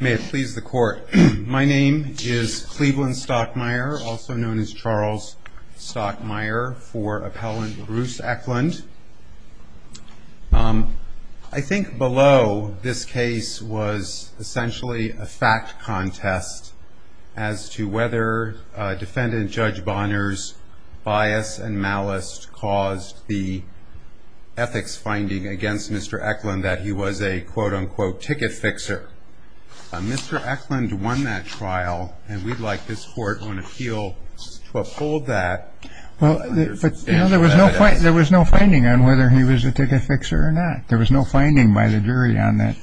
May it please the court. My name is Cleveland Stockmire also known as Charles Stockmire for appellant Bruce Eklund. I think below this case was essentially a fact contest as to whether defendant Judge Bonner's bias and malice caused the ethics finding against Mr. Eklund that he was a quote-unquote ticket fixer. Mr. Eklund won that trial and we'd like this court on appeal to uphold that. Well there was no point there was no finding on whether he was a ticket fixer or not. There was no finding by the jury on that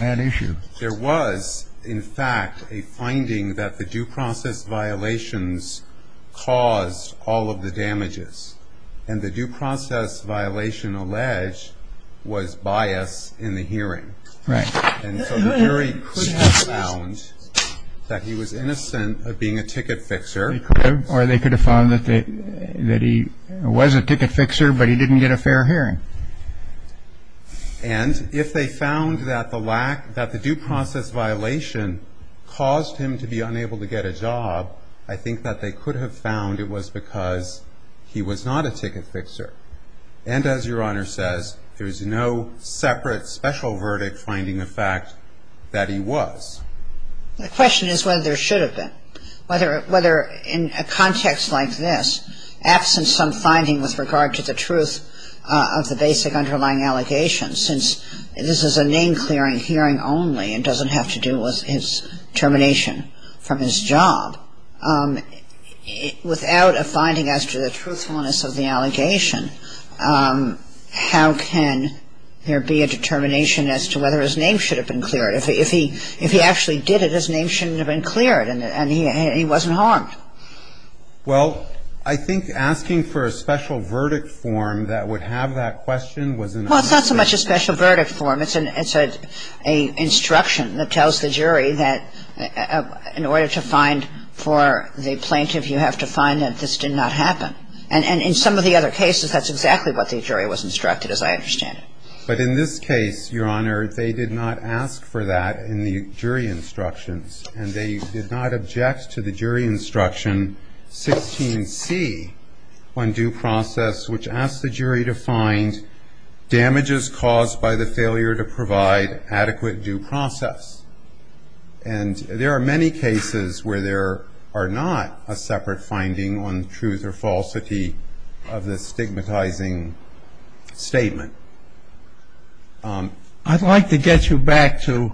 that issue. There was in fact a finding that the due process violations caused all of the damages and the due process violation alleged was bias in the hearing. And so the jury could have found that he was innocent of being a ticket fixer. Or they could have found that they that he was a ticket fixer but he didn't get a fair hearing. And if they found that the lack that the due process violation caused him to be unable to get a job I think that they could have found it was because he was not a ticket fixer. And as your honor says there's no separate special verdict finding the fact that he was. The question is whether there should have been. Whether whether in a context like this absent some finding with regard to the truth of the basic underlying allegations since this is a name-clearing hearing only and doesn't have to do with his termination from his job without a finding as to the truthfulness of the allegation how can there be a determination as to whether his name should have been cleared if he if he actually did it his name shouldn't have been cleared and he wasn't harmed. Well I think asking for a special verdict form that would have that question was. Well it's not so much a special that tells the jury that in order to find for the plaintiff you have to find that this did not happen. And in some of the other cases that's exactly what the jury was instructed as I understand it. But in this case your honor they did not ask for that in the jury instructions and they did not object to the jury instruction 16c on due process which asked the jury to find damages caused by the failure to due process. And there are many cases where there are not a separate finding on truth or falsity of the stigmatizing statement. I'd like to get you back to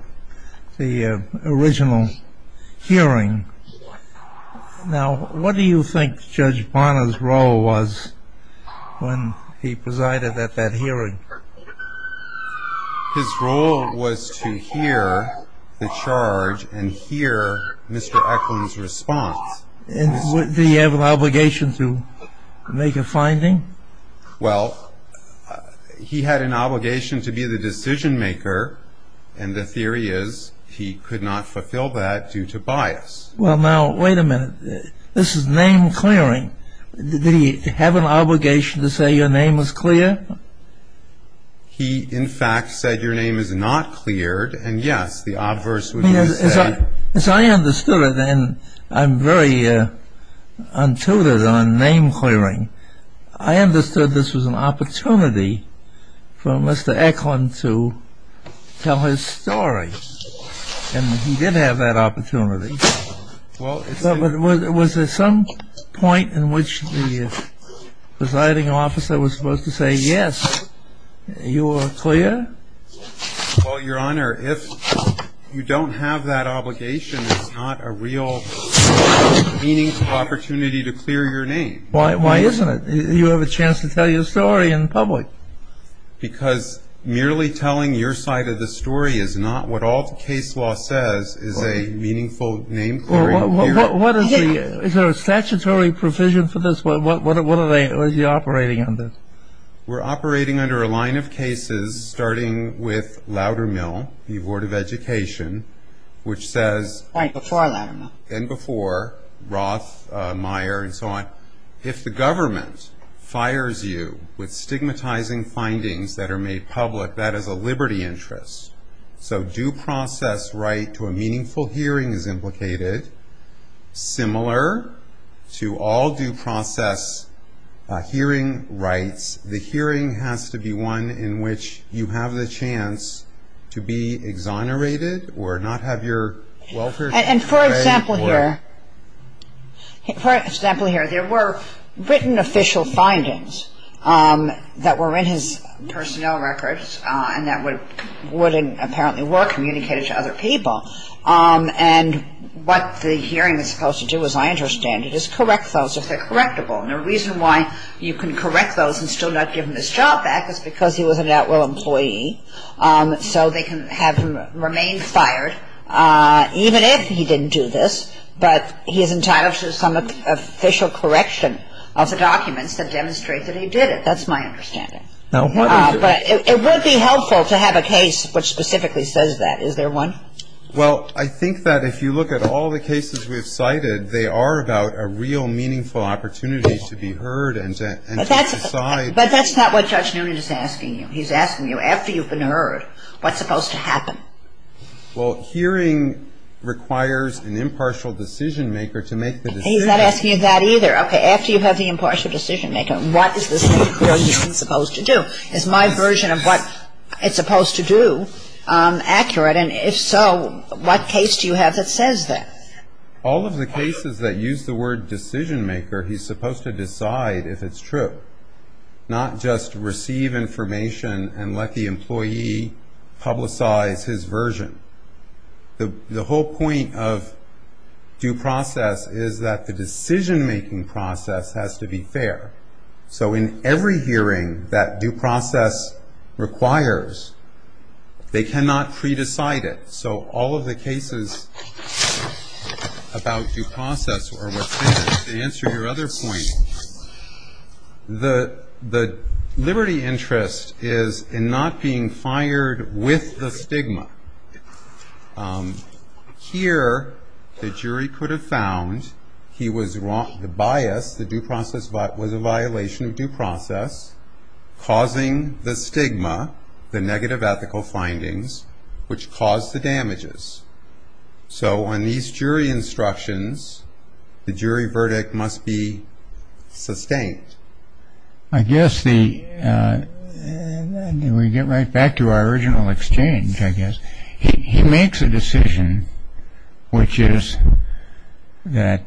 the original hearing. Now what do you think Judge Bonner's role was when he was to hear the charge and hear Mr. Eklund's response? Did he have an obligation to make a finding? Well he had an obligation to be the decision maker and the theory is he could not fulfill that due to bias. Well now wait a minute this is name clearing. Did he have an obligation to say your name was clear? He in fact said your name is not cleared and yes the obverse would be to say. As I understood it and I'm very untutored on name clearing. I understood this was an opportunity for Mr. Eklund to tell his story. And he did have that opportunity. But was there some point in which the presiding officer was supposed to say yes you are clear? Well your honor if you don't have that obligation it's not a real meaningful opportunity to clear your name. Why isn't it? You have a chance to tell your story in public. Because merely telling your side of the story is not what all the case law says is a meaningful name clearing. Is there a statutory provision for this? What are they operating under? We're operating under a line of cases starting with Loudermill the Board of Education which says. Right before Loudermill. And before Roth, Meyer and so on. If the government fires you with stigmatizing findings that are made public that is a liberty interest. So due all due process hearing rights. The hearing has to be one in which you have the chance to be exonerated or not have your welfare. And for example here. For example here there were written official findings that were in his personnel records and that would apparently were communicated to other people. And what the hearing is supposed to do as I understand it is correct those if they're correctable. And the reason why you can correct those and still not give him his job back is because he was an at will employee. So they can have him remain fired even if he didn't do this. But he is entitled to some official correction of the documents that demonstrate that he did it. That's my understanding. Now why don't you. But it would be helpful to have a case which specifically says that. Is there one? Well I think that if you look at all the cases we've cited they are about a real meaningful opportunity to be heard and to decide. But that's not what Judge Noonan is asking you. He's asking you after you've been heard what's supposed to happen. Well hearing requires an impartial decision maker to make the decision. He's not asking you that either. Okay. After you have the impartial decision maker what is this hearing supposed to do. It's my version of what it's supposed to do. Accurate. And if so what case do you have that says that? All of the cases that use the word decision maker he's supposed to decide if it's true. Not just receive information and let the employee publicize his version. The whole point of due process is that the decision making process has to be fair. So in every hearing that due process requires they cannot pre-decide it. So all of the cases about due process or what's in it, to answer your other point, the liberty interest is in not being fired with the stigma. Here the jury could have found he was wrong, the bias, the due process was a violation of due process causing the stigma, the negative ethical findings which caused the damages. So on these jury instructions the jury verdict must be sustained. I guess the, we get right back to our original exchange I guess, he makes a decision which is that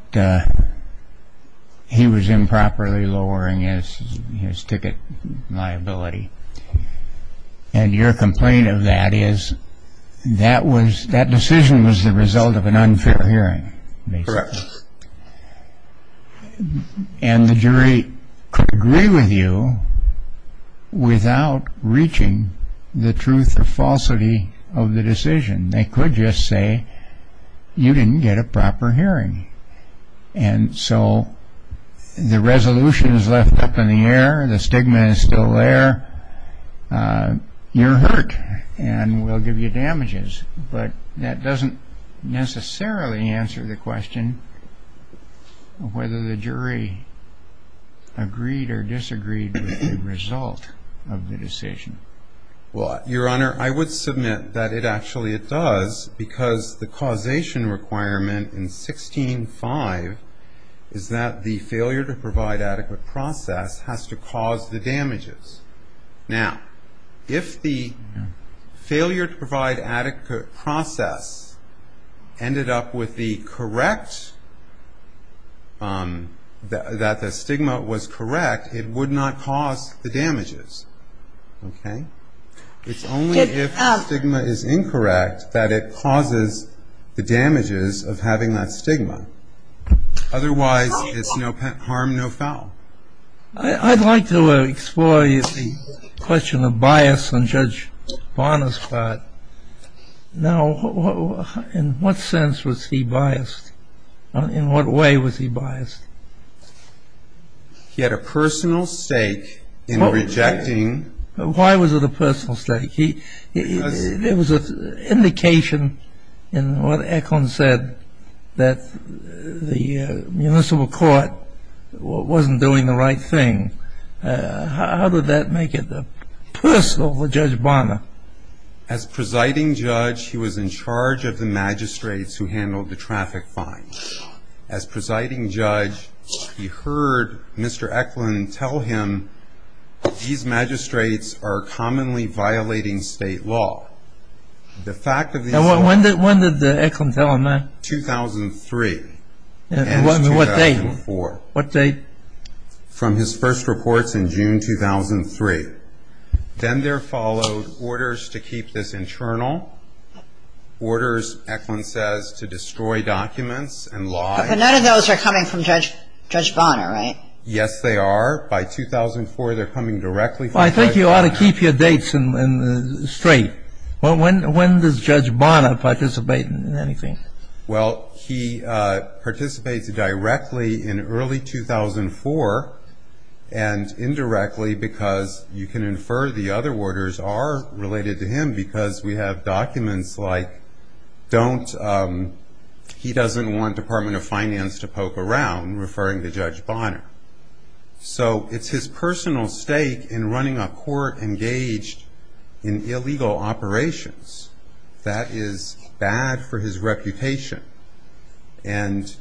he was improperly lowering his ticket liability and your complaint of that is that was, that decision was the result of an unfair hearing. And the jury could agree with you without reaching the truth or falsity of the decision. They could just say you didn't get a proper hearing and so the resolution is left up in the air, the stigma is still there, you're hurt and we'll give you damages. But that doesn't necessarily answer the question of whether the jury agreed or disagreed with the result of the decision. Well, Your Honor, I would submit that it actually does because the causation requirement in 16-5 is that the failure to provide adequate process has to cause the damages. Now, if the failure to provide adequate process ended up with the correct, that the stigma was correct, it would not cause the damages. Okay? It's only if the stigma is incorrect that it causes the damages of having that stigma. Otherwise it's no harm, no foul. I'd like to explore the question of bias on Judge Bonner's part. Now, in what sense was he biased? In what way was he biased? He had a personal stake in rejecting Why was it a personal stake? It was an indication in what Eklund said that the judge was doing the right thing. How did that make it personal for Judge Bonner? As presiding judge, he was in charge of the magistrates who handled the traffic fines. As presiding judge, he heard Mr. Eklund tell him, these magistrates are commonly violating state law. The fact of the... Now, when did Eklund tell him that? 2003. 2003. And what date? 2004. What date? From his first reports in June 2003. Then there followed orders to keep this internal, orders, Eklund says, to destroy documents and lies. But none of those are coming from Judge Bonner, right? Yes, they are. By 2004, they're coming directly from Judge Bonner. Well, I think you ought to keep your dates straight. When does Judge Bonner participate in anything? Well, he participates directly in early 2004 and indirectly because you can infer the other orders are related to him because we have documents like, he doesn't want Department of Finance to poke around, referring to Judge Bonner. So it's his personal stake in running a court engaged in illegal operations. That is bad for his reputation. And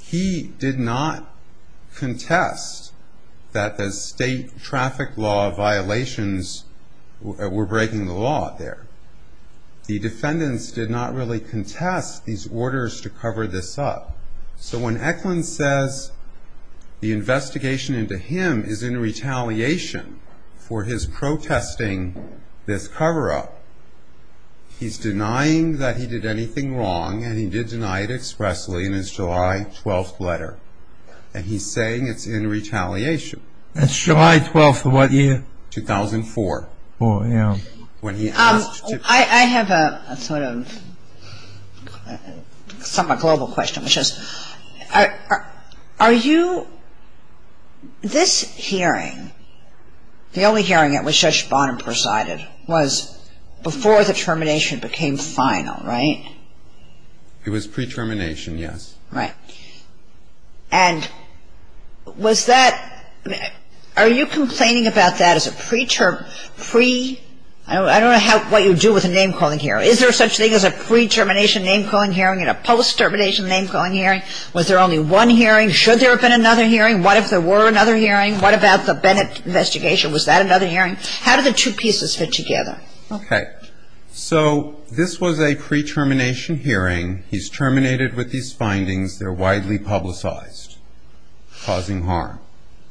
he did not contest that the state traffic law violations were breaking the law there. The defendants did not really contest these orders to cover this up. So when Eklund says the investigation into him is in retaliation for his protesting this cover-up, he's denying that he did anything wrong and he did deny it expressly in his July 12th letter. And he's saying it's in retaliation. That's July 12th of what year? 2004. Four, yeah. When he asked to I have a sort of somewhat global question, which is, are you, this hearing, the only hearing at which Judge Bonner presided was before the termination became final, right? It was pre-termination, yes. Right. And was that, are you complaining about that as a pre-term, I don't know what you do with a name-calling hearing. Is there such a thing as a pre- termination name-calling hearing and a post-termination name-calling hearing? Was there only one hearing? Should there have been another hearing? What if there were another hearing? What about the Bennett investigation? Was that another hearing? How did the two pieces fit together? Okay. So this was a pre-termination hearing. He's terminated with these findings. They're widely publicized, causing harm.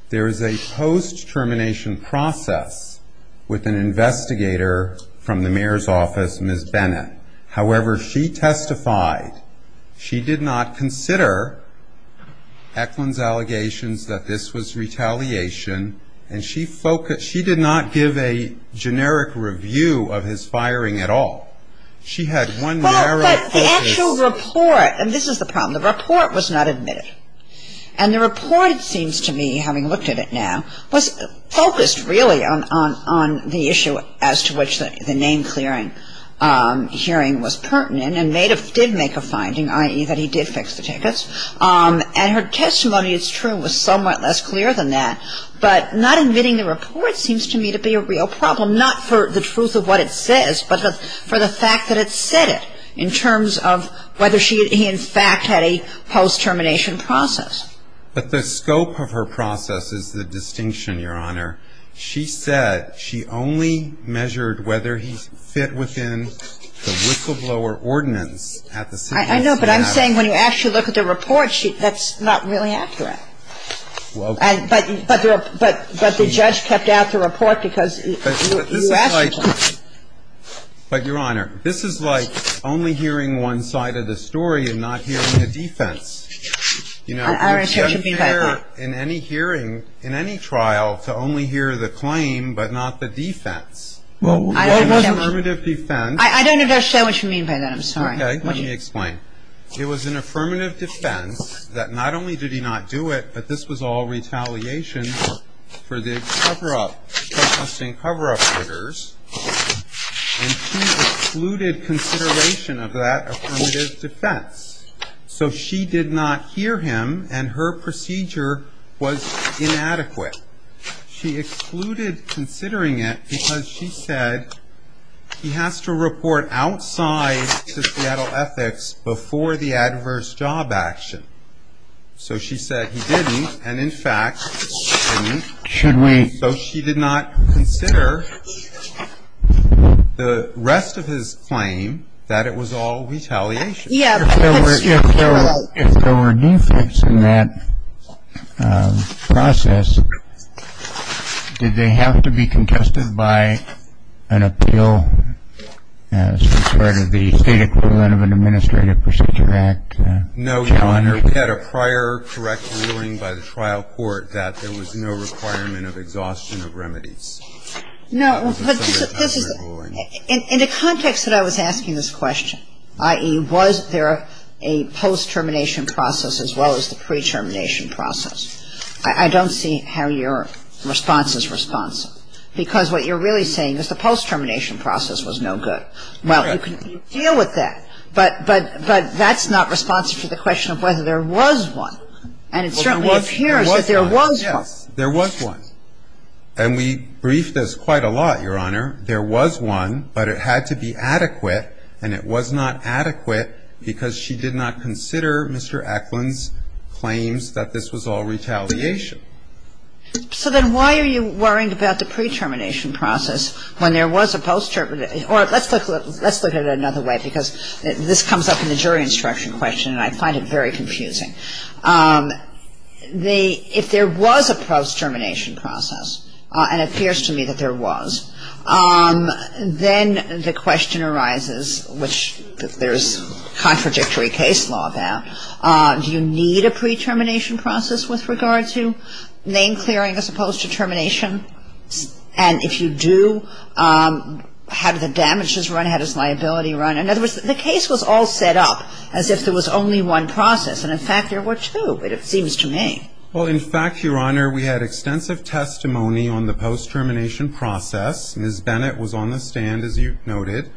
There is a post- termination process with an investigator from the mayor's office, Ms. Bennett. However, she testified she did not consider Eklund's allegations that this was retaliation, and she focused, she did not give a generic review of his firing at all. She had one narrow focus. Well, but the actual report, and this is the problem, the report was not admitted. And the report, it seems to me, having looked at it now, was focused really on the issue as to which the name-clearing hearing was pertinent and did make a finding, i.e., that he did fix the tickets. And her testimony, it's true, was somewhat less clear than that. But not admitting the report seems to me to be a real problem, not for the truth of what it says, but for the fact that it said it, in terms of whether he in fact had a post-termination process. But the scope of her process is the distinction, Your Honor. She said she only measured whether he fit within the whistleblower ordinance at the city council. I know, but I'm saying when you actually look at the report, that's not really accurate. Well, okay. But the judge kept out the report because you asked him to. But, Your Honor, this is like only hearing one side of the story and not hearing the defense. You know, it's unfair in any hearing, in any trial, to only hear the claim but not the defense. Well, it was an affirmative defense. I don't understand what you mean by that. I'm sorry. Okay. Let me explain. It was an affirmative defense that not only did he not do it, but this was all retaliation for the cover-up, protesting cover-up orders. And she excluded consideration of that affirmative defense. So she did not hear him, and her procedure was inadequate. She excluded considering it because she said he has to report outside to Seattle Ethics before the adverse job action. So she said he didn't, and, in fact, he didn't. Should we? So she did not consider the rest of his claim that it was all retaliation. Yeah. If there were defects in that process, did they have to be contested by an appeal as part of the state equivalent of an Administrative Procedure Act? No. You had a prior correct ruling by the trial court that there was no requirement of exhaustion of remedies. No. But this is – in the context that I was asking this question, i.e., was there a post-termination process as well as the pre-termination process, I don't see how your response is responsive, because what you're really saying is the post-termination process was no good. Well, you can deal with that, but that's not responsive to the question of whether there was one. And it certainly appears that there was one. Yes. There was one. And we briefed this quite a lot, Your Honor. There was one, but it had to be adequate, and it was not adequate because she did not consider Mr. Eklund's claims that this was all retaliation. So then why are you worrying about the pre-termination process when there was a post-termination – or let's look at it another way, because this comes up in the jury instruction question, and I find it very confusing. If there was a post-termination process, and it appears to me that there was, then the question arises, which there's contradictory case law about, do you need a pre-termination process with regard to name-clearing as opposed to termination? And if you do, how do the damages run? How does liability run? In other words, the case was all set up as if there was only one process, and in fact there were two, it seems to me. Well, in fact, Your Honor, we had extensive testimony on the post-termination process. Ms. Bennett was on the stand, as you noted.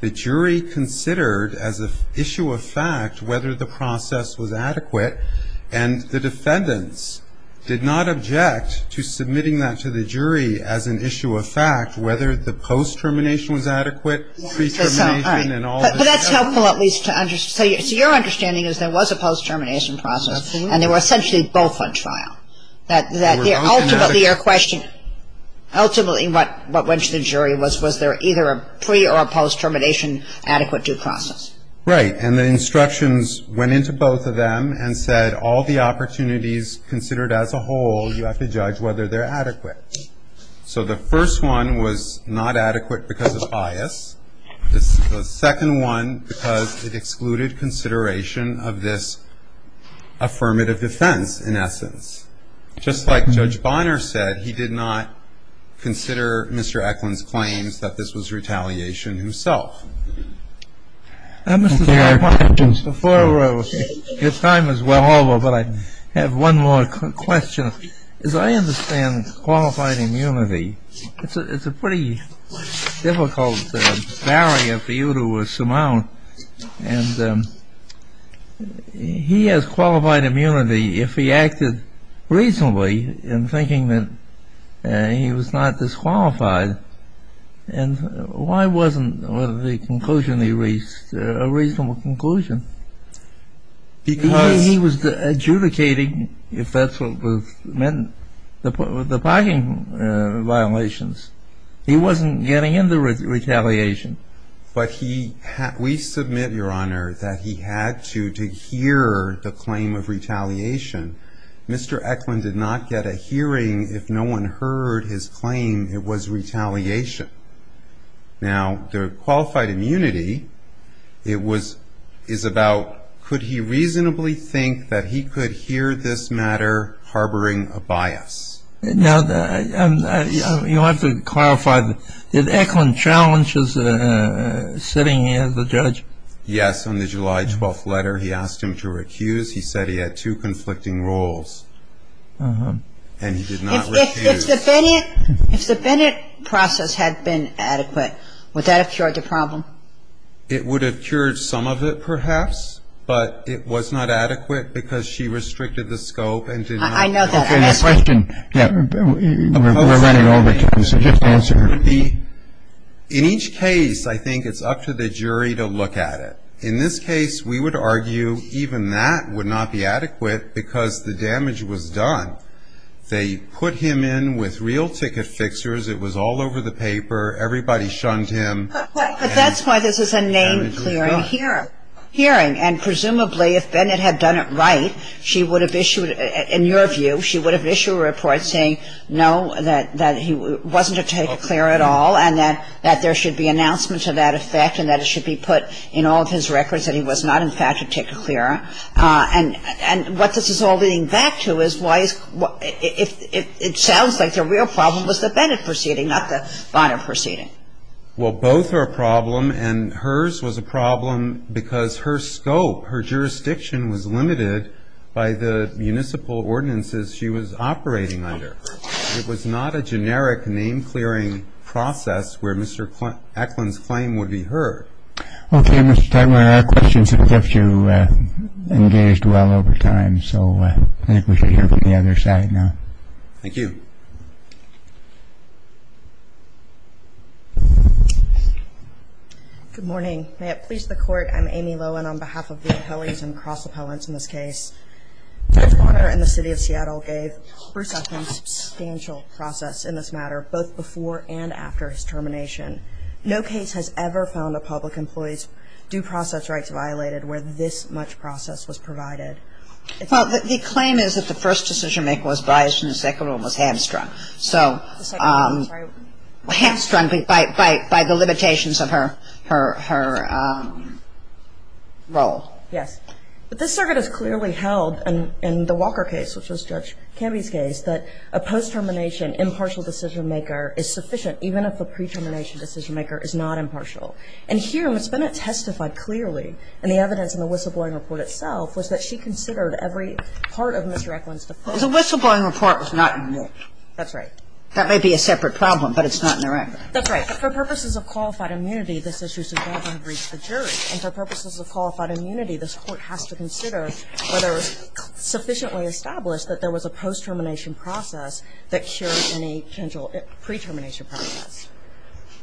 The jury considered as an issue of fact whether the process was adequate, and the defendants did not object to submitting that to the jury as an issue of fact, whether the post-termination was adequate, pre-termination and all the rest. But that's helpful, at least, to understand. So your understanding is there was a post-termination process, and they were essentially both on trial, that ultimately your question – ultimately what went to the jury was, was there either a pre- or a post-termination adequate due process? Right. And the instructions went into both of them and said all the opportunities considered as a whole, you have to judge whether they're adequate. So the first one was not adequate because of bias. The second one, because it excluded consideration of this affirmative defense, in essence. Just like Judge Bonner said, he did not consider Mr. Eklund's claims that this was retaliation himself. Mr. Farrar, your time is well over, but I have one more question. As I understand qualified immunity, it's a pretty difficult barrier for you to surmount. And he has qualified immunity if he acted reasonably in thinking that he was not disqualified. And why wasn't the conclusion he reached a reasonable conclusion? Because he was adjudicating, if that's what meant, the parking violations. He wasn't getting into retaliation. But he – we submit, Your Honor, that he had to, to hear the claim of retaliation. Mr. Eklund did not get a hearing if no one heard his claim it was retaliation. Now, the qualified immunity, it was – is about could he reasonably think that he could hear this matter harboring a bias? Now, you'll have to clarify, did Eklund challenge his sitting as a judge? Yes. On the July 12th letter, he asked him to recuse. He said he had two conflicting roles. And he did not recuse. If the Bennett process had been adequate, would that have cured the problem? It would have cured some of it, perhaps. But it was not adequate because she restricted the scope and did not – I know that. I'm asking. Okay. The question – yeah. We're running over time, so just answer. In each case, I think it's up to the jury to look at it. In this case, we would argue even that would not be adequate because the damage was done. They put him in with real ticket fixers. It was all over the paper. Everybody shunned him. But that's why this is a name-clearing hearing. And presumably, if Bennett had done it right, she would have issued – in your view, she would have issued a report saying, no, that he wasn't a ticket clear at all and that there should be announcement to that effect and that it should be put in all of his records that he was not, in fact, a ticket clear. And what this is all leading back to is why – it sounds like the real problem was the Bennett proceeding, not the Bonner proceeding. Well, both are a problem. And hers was a problem because her scope, her jurisdiction was limited by the municipal ordinances she was operating under. It was not a generic name-clearing process where Mr. Eklund's claim would be heard. Okay, Mr. Tegeler, our questions have kept you engaged well over time. So I think we should hear from the other side now. Thank you. Good morning. May it please the Court, I'm Amy Lohan on behalf of the appellees and cross-appellants in this case. Judge Bonner and the City of Seattle gave Bruce Eklund substantial process in this matter, both before and after his termination. No case has ever found a public employee's due process rights violated where this much process was provided. Well, the claim is that the first decision-maker was biased and the second one was hamstrung. So – The second one was very – Hamstrung by the limitations of her role. Yes. But this circuit has clearly held in the Walker case, which was Judge Canby's case, that a post-termination impartial decision-maker is sufficient even if the pre-termination decision-maker is not impartial. And here, Ms. Bonner testified clearly, and the evidence in the whistleblowing report itself, was that she considered every part of Mr. Eklund's defense. Well, the whistleblowing report was not in there. That's right. That may be a separate problem, but it's not in the record. That's right. But for purposes of qualified immunity, this issue is involved under each of the juries. And for purposes of qualified immunity, this Court has to consider whether it was sufficiently established that there was a post-termination process that cured any potential pre-termination process.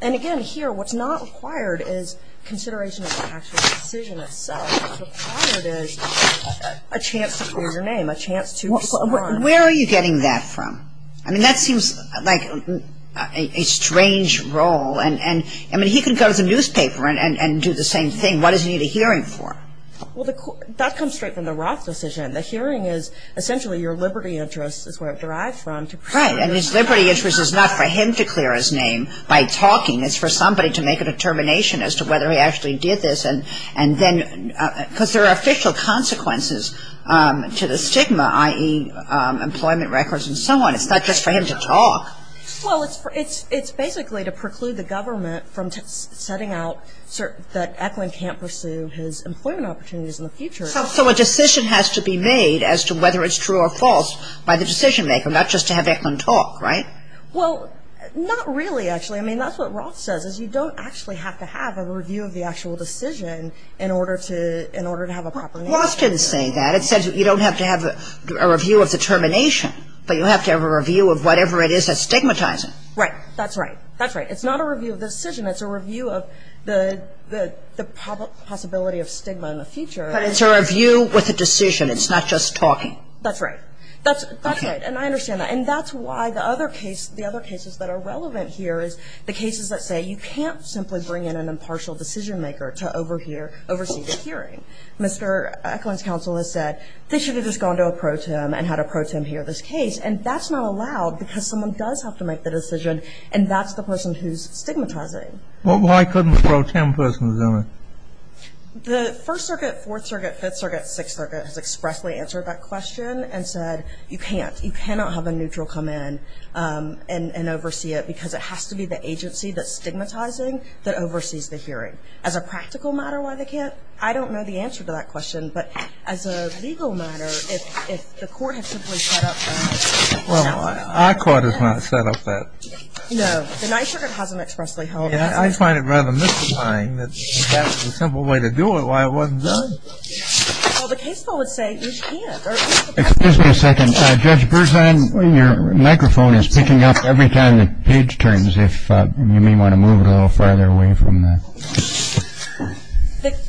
And again, here, what's not required is consideration of the actual decision itself. What's required is a chance to clear your name, a chance to respond. Where are you getting that from? I mean, that seems like a strange role. And, I mean, he can go to the newspaper and do the same thing. What does he need a hearing for? Well, that comes straight from the Roth decision. The hearing is essentially your liberty interest, is where it derived from, to clear his name by talking. It's for somebody to make a determination as to whether he actually did this. And then, because there are official consequences to the stigma, i.e., employment records and so on. It's not just for him to talk. Well, it's basically to preclude the government from setting out that Eklund can't pursue his employment opportunities in the future. So a decision has to be made as to whether it's true or false by the decision maker, not just to have Eklund talk, right? Well, not really, actually. I mean, that's what Roth says, is you don't actually have to have a review of the actual decision in order to have a proper name. Roth didn't say that. It says you don't have to have a review of determination, but you have to have a review of whatever it is that's stigmatizing. Right. That's right. That's right. It's not a review of the decision. It's a review of the possibility of stigma in the future. But it's a review with a decision. It's not just talking. That's right. That's right. And I understand that. And that's why the other case, the other cases that are relevant here is the cases that say you can't simply bring in an impartial decision maker to overhear, oversee the hearing. Mr. Eklund's counsel has said they should have just gone to a pro tem and had a pro tem hear this case. And that's not allowed because someone does have to make the decision and that's the person who's stigmatizing. Well, why couldn't a pro tem person do it? The First Circuit, Fourth Circuit, Fifth Circuit, Sixth Circuit has expressly answered that question and said you can't. You cannot have a neutral come in and oversee it because it has to be the agency that's stigmatizing that oversees the hearing. As a practical matter, why they can't? I don't know the answer to that question. But as a legal matter, if the court had simply set up that. Well, our court has not set up that. No. The Ninth Circuit hasn't expressly held that. I find it rather mystifying that you have a simple way to do it. Why wasn't it done? Well, the case law would say you can't. Excuse me a second. Judge Berzin, your microphone is picking up every time the page turns, if you may want to move it a little farther away from that.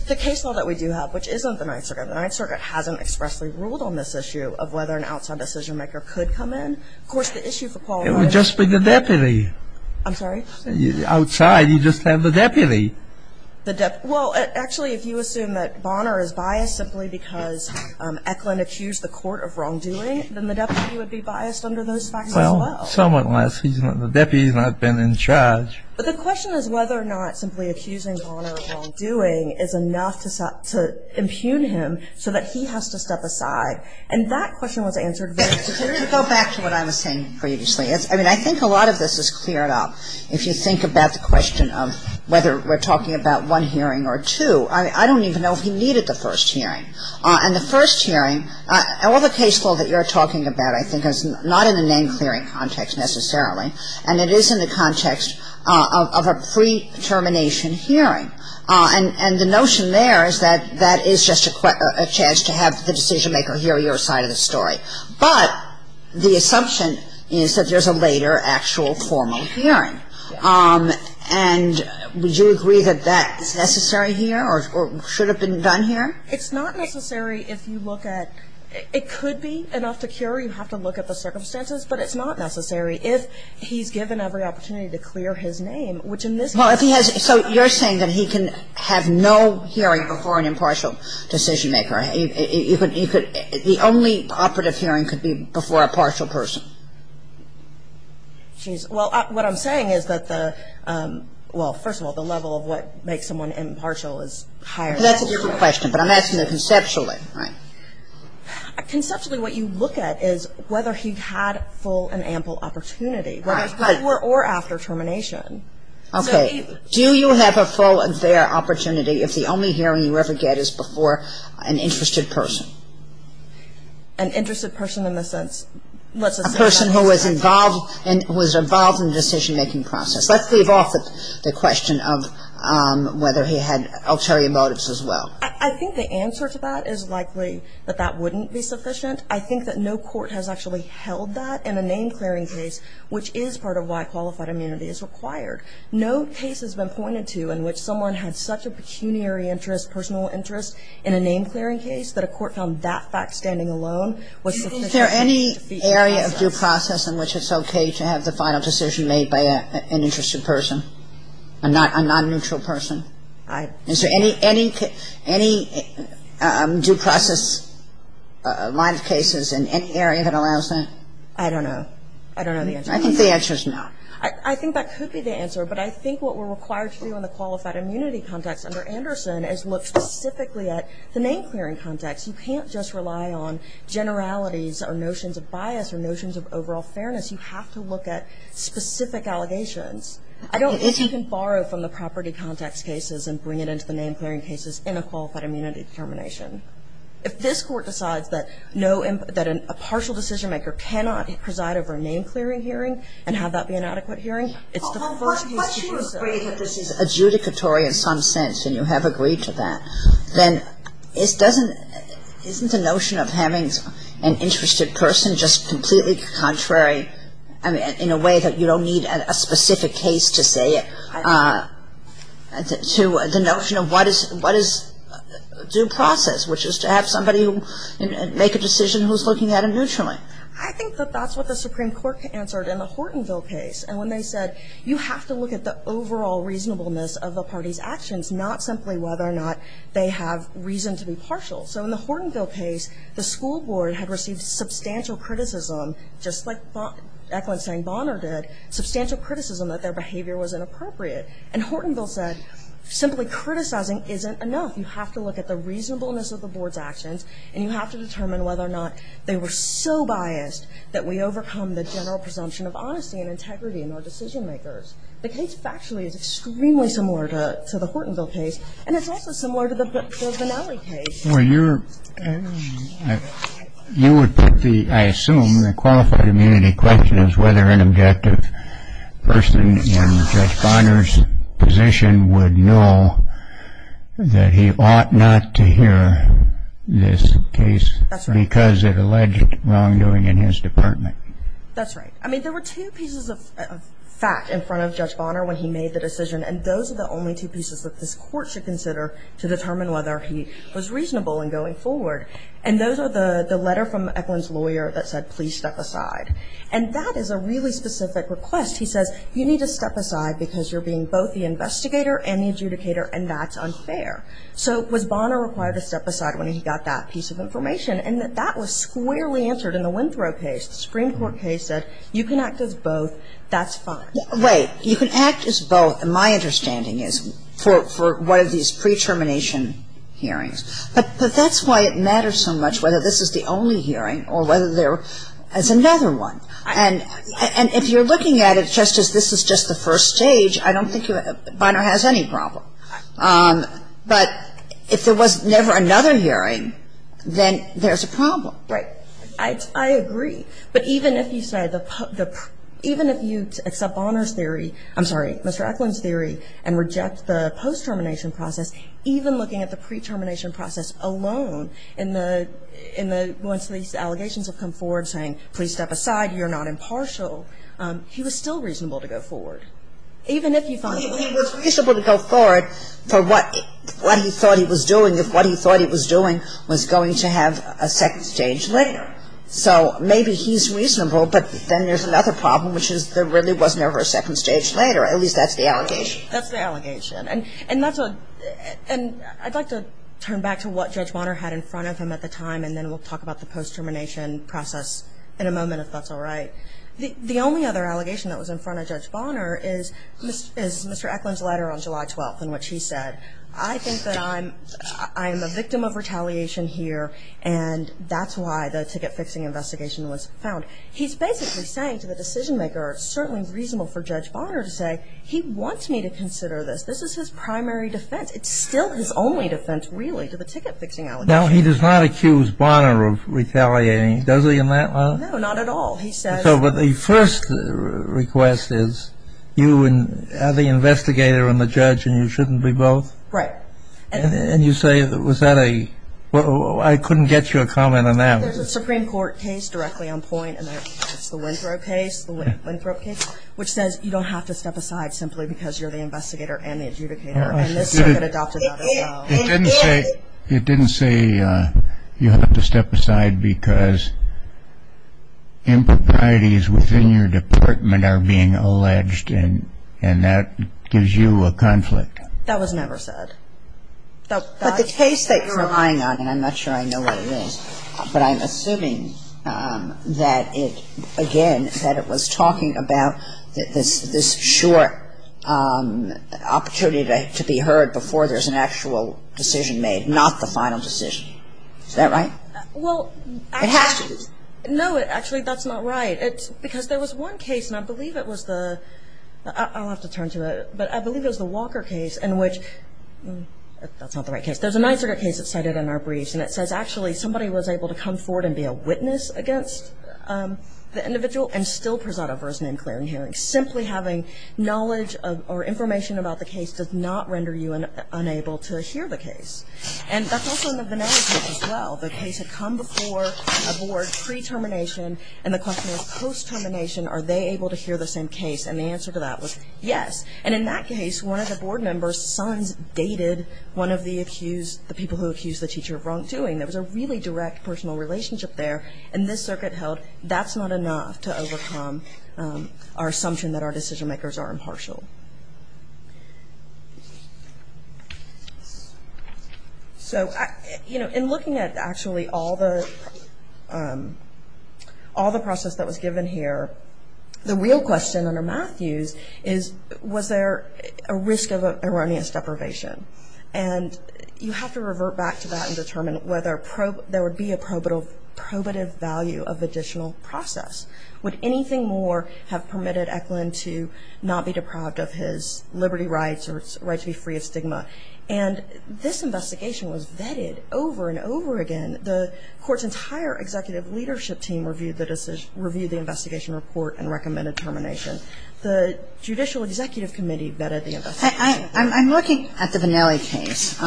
The case law that we do have, which isn't the Ninth Circuit, the Ninth Circuit hasn't expressly ruled on this issue of whether an outside decision maker could come in. Of course, the issue for Paul. It would just be the deputy. I'm sorry? Outside, you just have the deputy. Well, actually, if you assume that Bonner is biased simply because Eklund accused the court of wrongdoing, then the deputy would be biased under those facts as well. Well, somewhat less. The deputy has not been in charge. But the question is whether or not simply accusing Bonner of wrongdoing is enough to impugn him so that he has to step aside. And that question was answered very quickly. Go back to what I was saying previously. I mean, I think a lot of this is cleared up. If you think about the question of whether we're talking about one hearing or two, I don't even know if he needed the first hearing. And the first hearing, all the case law that you're talking about, I think, is not in the name-clearing context necessarily. And it is in the context of a pre-termination hearing. And the notion there is that that is just a chance to have the decision maker hear your side of the story. But the assumption is that there's a later actual formal hearing. And would you agree that that is necessary here or should have been done here? It's not necessary if you look at – it could be enough to cure. You have to look at the circumstances. But it's not necessary if he's given every opportunity to clear his name, which in this case – Well, if he has – so you're saying that he can have no hearing before an impartial decision maker. You could – the only operative hearing could be before a partial person. Well, what I'm saying is that the – well, first of all, the level of what makes someone impartial is higher. That's a different question, but I'm asking you conceptually, right? Conceptually, what you look at is whether he had full and ample opportunity. Whether it's before or after termination. Okay. Do you have a full and fair opportunity if the only hearing you ever get is before an interested person? An interested person in the sense – A person who was involved in the decision making process. Let's leave off the question of whether he had ulterior motives as well. I think the answer to that is likely that that wouldn't be sufficient. I think that no court has actually held that in a name-clearing case, which is part of why qualified immunity is required. No case has been pointed to in which someone had such a pecuniary interest, personal interest, in a name-clearing case that a court found that fact standing alone was sufficient. Is there any area of due process in which it's okay to have the final decision made by an interested person? A non-neutral person? Is there any due process line of cases in any area that allows that? I don't know. I don't know the answer. I think the answer is no. I think that could be the answer, but I think what we're required to do in the qualified immunity context under Anderson is look specifically at the name-clearing context. You can't just rely on generalities or notions of bias or notions of overall fairness. You have to look at specific allegations. I don't think you can borrow from the property context cases and bring it into the name-clearing cases in a qualified immunity determination. If this Court decides that no imp – that a partial decision-maker cannot preside over a name-clearing hearing and have that be an adequate hearing, it's the first case to do so. But you agree that this is adjudicatory in some sense, and you have agreed to that. Then isn't the notion of having an interested person just completely contrary in a way that you don't need a specific case to say it to the notion of what is due process, which is to have somebody make a decision who's looking at it neutrally? I think that that's what the Supreme Court answered in the Hortonville case. And when they said, you have to look at the overall reasonableness of the party's actions, not simply whether or not they have reason to be partial. So in the Hortonville case, the school board had received substantial criticism, just like Eklund saying Bonner did, substantial criticism that their behavior was inappropriate. And Hortonville said, simply criticizing isn't enough. You have to look at the reasonableness of the board's actions, and you have to determine whether or not they were so biased that we overcome the general presumption of honesty and integrity in our decision-makers. The case factually is extremely similar to the Hortonville case, and it's also similar to the Bonnelli case. Well, you would put the, I assume, the qualified immunity question as whether an objective person in Judge Bonner's position would know that he ought not to hear this case because it alleged wrongdoing in his department. That's right. I mean, there were two pieces of fact in front of Judge Bonner when he made the decision, and those are the only two pieces that this Court should consider to determine whether he was reasonable in going forward. And those are the letter from Eklund's lawyer that said, please step aside. And that is a really specific request. He says, you need to step aside because you're being both the investigator and the adjudicator, and that's unfair. So was Bonner required to step aside when he got that piece of information? And that was squarely answered in the Winthrow case. The Supreme Court case said, you can act as both, that's fine. Wait. You can act as both, my understanding is, for one of these pre-termination hearings. But that's why it matters so much whether this is the only hearing or whether there is another one. And if you're looking at it just as this is just the first stage, I don't think Bonner has any problem. But if there was never another hearing, then there's a problem. Right. I agree. But even if you say the, even if you accept Bonner's theory, I'm sorry, Mr. Eklund's theory, and reject the post-termination process, even looking at the pre-termination process alone, in the, in the, once these allegations have come forward saying, please step aside, you're not impartial, he was still reasonable to go forward. Even if you find. He was reasonable to go forward for what, what he thought he was doing, if what he thought he was doing was going to have a second stage later. Right. So maybe he's reasonable, but then there's another problem, which is there really was never a second stage later. At least that's the allegation. That's the allegation. And, and that's what, and I'd like to turn back to what Judge Bonner had in front of him at the time, and then we'll talk about the post-termination process in a moment, if that's all right. The, the only other allegation that was in front of Judge Bonner is, is Mr. Eklund's letter on July 12th and what she said. I think that I'm, I am a victim of retaliation here. And that's why the ticket-fixing investigation was found. He's basically saying to the decision-maker, it's certainly reasonable for Judge Bonner to say, he wants me to consider this. This is his primary defense. It's still his only defense, really, to the ticket-fixing allegation. Now, he does not accuse Bonner of retaliating, does he, in that letter? No, not at all. He says. So, but the first request is, you and, are the investigator and the judge and you shouldn't be both? Right. And, and you say, was that a, I couldn't get you a comment on that. There's a Supreme Court case, directly on point, and it's the Winthrop case, the Winthrop case, which says, you don't have to step aside simply because you're the investigator and the adjudicator. And this circuit adopted that as well. It didn't say, it didn't say, you have to step aside because improprieties within your department are being alleged and, and that gives you a conflict. That was never said. But the case that you're relying on, and I'm not sure I know what it is, but I'm assuming that it, again, that it was talking about this, this short opportunity to be heard before there's an actual decision made, not the final decision. Is that right? Well, it has to be. No, actually, that's not right. Because there was one case, and I believe it was the, I'll have to turn to it, but I believe it was the Walker case, in which that's not the right case. There's a nine circuit case that's cited in our briefs, and it says, actually, somebody was able to come forward and be a witness against the individual, and still present a version in clearing hearing. Simply having knowledge or information about the case does not render you unable to hear the case. And that's also in the Vannelli case as well. The case had come before a board, pre-termination, and the question was, post-termination, are they able to hear the same case? And the answer to that was, yes. And in that case, one of the board members' sons dated one of the accused, the people who accused the teacher of wrongdoing. There was a really direct personal relationship there, and this circuit held, that's not enough to overcome our assumption that our decision-makers are impartial. So, you know, in looking at, actually, all the, all the process that was given here, the real question under Matthews is, was there a risk of erroneous deprivation? And you have to revert back to that and determine whether there would be a probative value of additional process. Would anything more have permitted Eklund to not be deprived of his liberty rights or his right to be free of stigma? And this investigation was vetted over and over again. The Court's entire executive leadership team reviewed the investigation report and recommended termination. The Judicial Executive Committee vetted the investigation report. I'm looking at the Vannelli case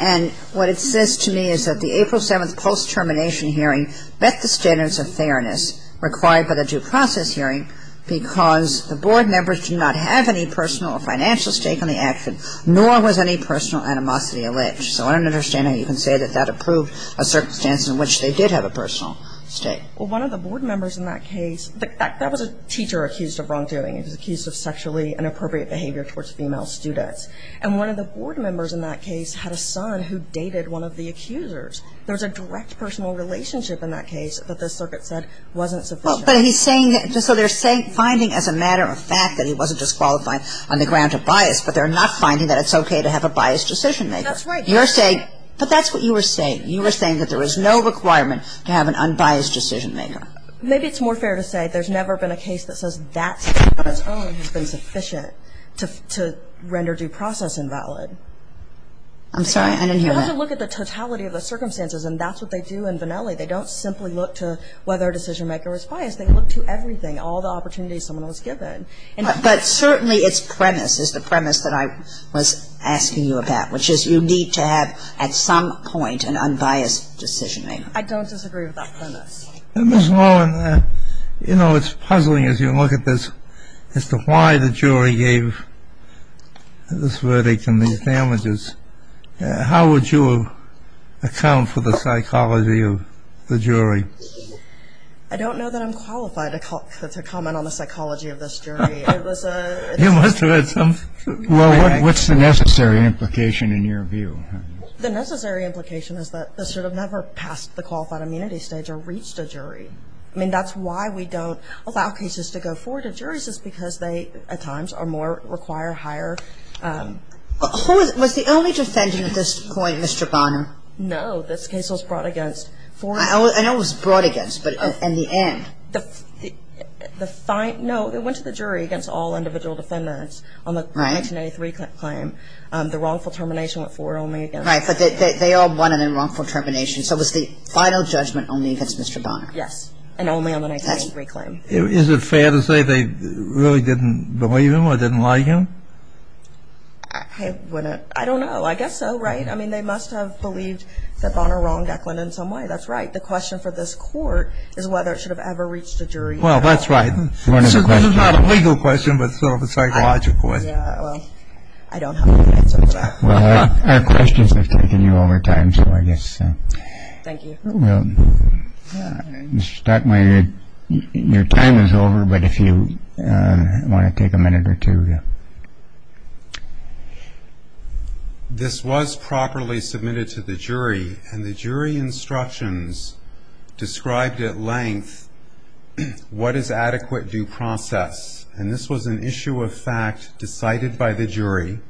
and what it says to me is that the April 7th post-termination hearing met the standards of fairness required by the due process hearing because the board members did not have any personal or financial stake in the action, nor was any personal animosity alleged. So I don't understand how you can say that that approved a circumstance in which they did have a personal stake. Well, one of the board members in that case, that was a teacher accused of wrongdoing. He was accused of sexually inappropriate behavior towards female students. And one of the board members in that case had a son who dated one of the accusers. There was a direct personal relationship in that case that the circuit said wasn't sufficient. Well, but he's saying, so they're finding as a matter of fact that he wasn't disqualified on the ground of bias, but they're not finding that it's okay to have a biased decision-maker. That's right. You're saying, but that's what you were saying. You were saying that there is no requirement to have an unbiased decision-maker. Maybe it's more fair to say there's never been a case that says that statement on its own has been sufficient to render due process invalid. I'm sorry. I didn't hear that. You have to look at the totality of the circumstances and that's what they do in Vannelli. They don't simply look to whether a decision-maker is biased. They look to everything, all the opportunities someone was given. But certainly its premise is the premise that I was asking you about, which is you need to have at some point an unbiased decision-maker. I don't disagree with that premise. Ms. Lawrence, you know, it's puzzling as you look at this as to why the jury gave this verdict and these damages. How would you account for the psychology of the jury? I don't know that I'm qualified to comment on the psychology of this jury. You must have had some... Well, what's the necessary implication in your view? The necessary implication is that the sort of never passed the qualified immunity stage or reached a jury. That's why we don't allow cases to go forward to juries is because they at times require higher... Was the only defendant at this point Mr. Bonner? No, this case was brought against four... I know it was brought against but in the end... No, it went to the jury against all individual defendants on the 1983 claim. The wrongful termination went forward only against... Right, but they all wanted a wrongful termination so it was the final judgment only against Mr. Bonner. Yes, and only on the 1983 claim. Is it fair to say they really didn't believe him or didn't like him? I wouldn't... I don't know. I guess so, right? I mean, they must have believed that Bonner wronged Eklund in some way. That's right. The question for this court is whether it should have ever reached a jury. Well, that's right. This is not a legal question but sort of a psychological one. Yeah, well, I don't have an answer to that. Well, our questions have taken you over time so I guess... Thank you. Mr. Stockmyer, your time is over but if you want to take a minute or two... This was properly submitted to the jury and the jury instructions described at length what is adequate due process and this was an issue of fact decided by the jury.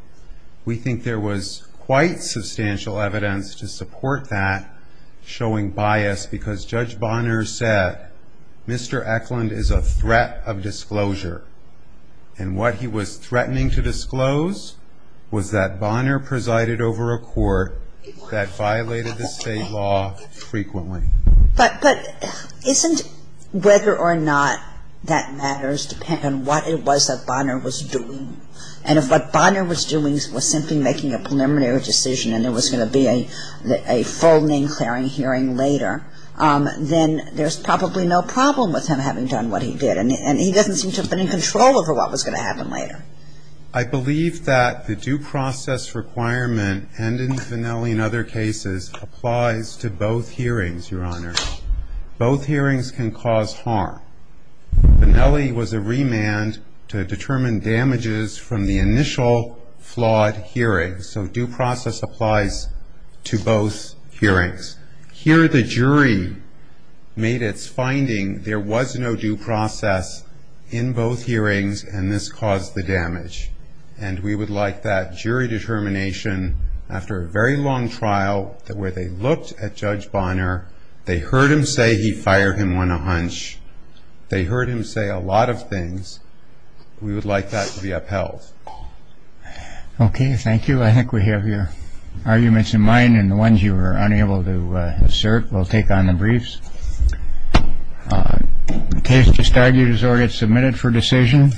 We think there was quite substantial evidence to support that showing bias because Judge Bonner said Mr. Eklund is a threat of disclosure and what he was threatening to disclose was that Bonner presided over a court that violated the state law frequently. But isn't whether or not that matters depending on what it was that Bonner was doing and if what Bonner was doing was simply making a preliminary decision and there was going to be a full name clearing hearing later then there's probably no problem with him having done what he did and he doesn't seem to have been in control over what was going to happen later. I believe that the due process requirement and in Vannelli and other cases applies to both hearings, Your Honor. Both hearings can cause harm. Vannelli was a victim of damages from the initial flawed hearing so due process applies to both hearings. Here the jury made its finding there was no due process in both hearings and this caused the damage and we would like that jury determination after a very long trial where they looked at Judge Bonner, they heard him say he fired him on a hunch they heard him say a lot of things we would like that to be upheld. Okay. Thank you. I think we have your arguments in mind and the ones you were unable to assert we'll take on the briefs. The case just argued is already submitted for decision.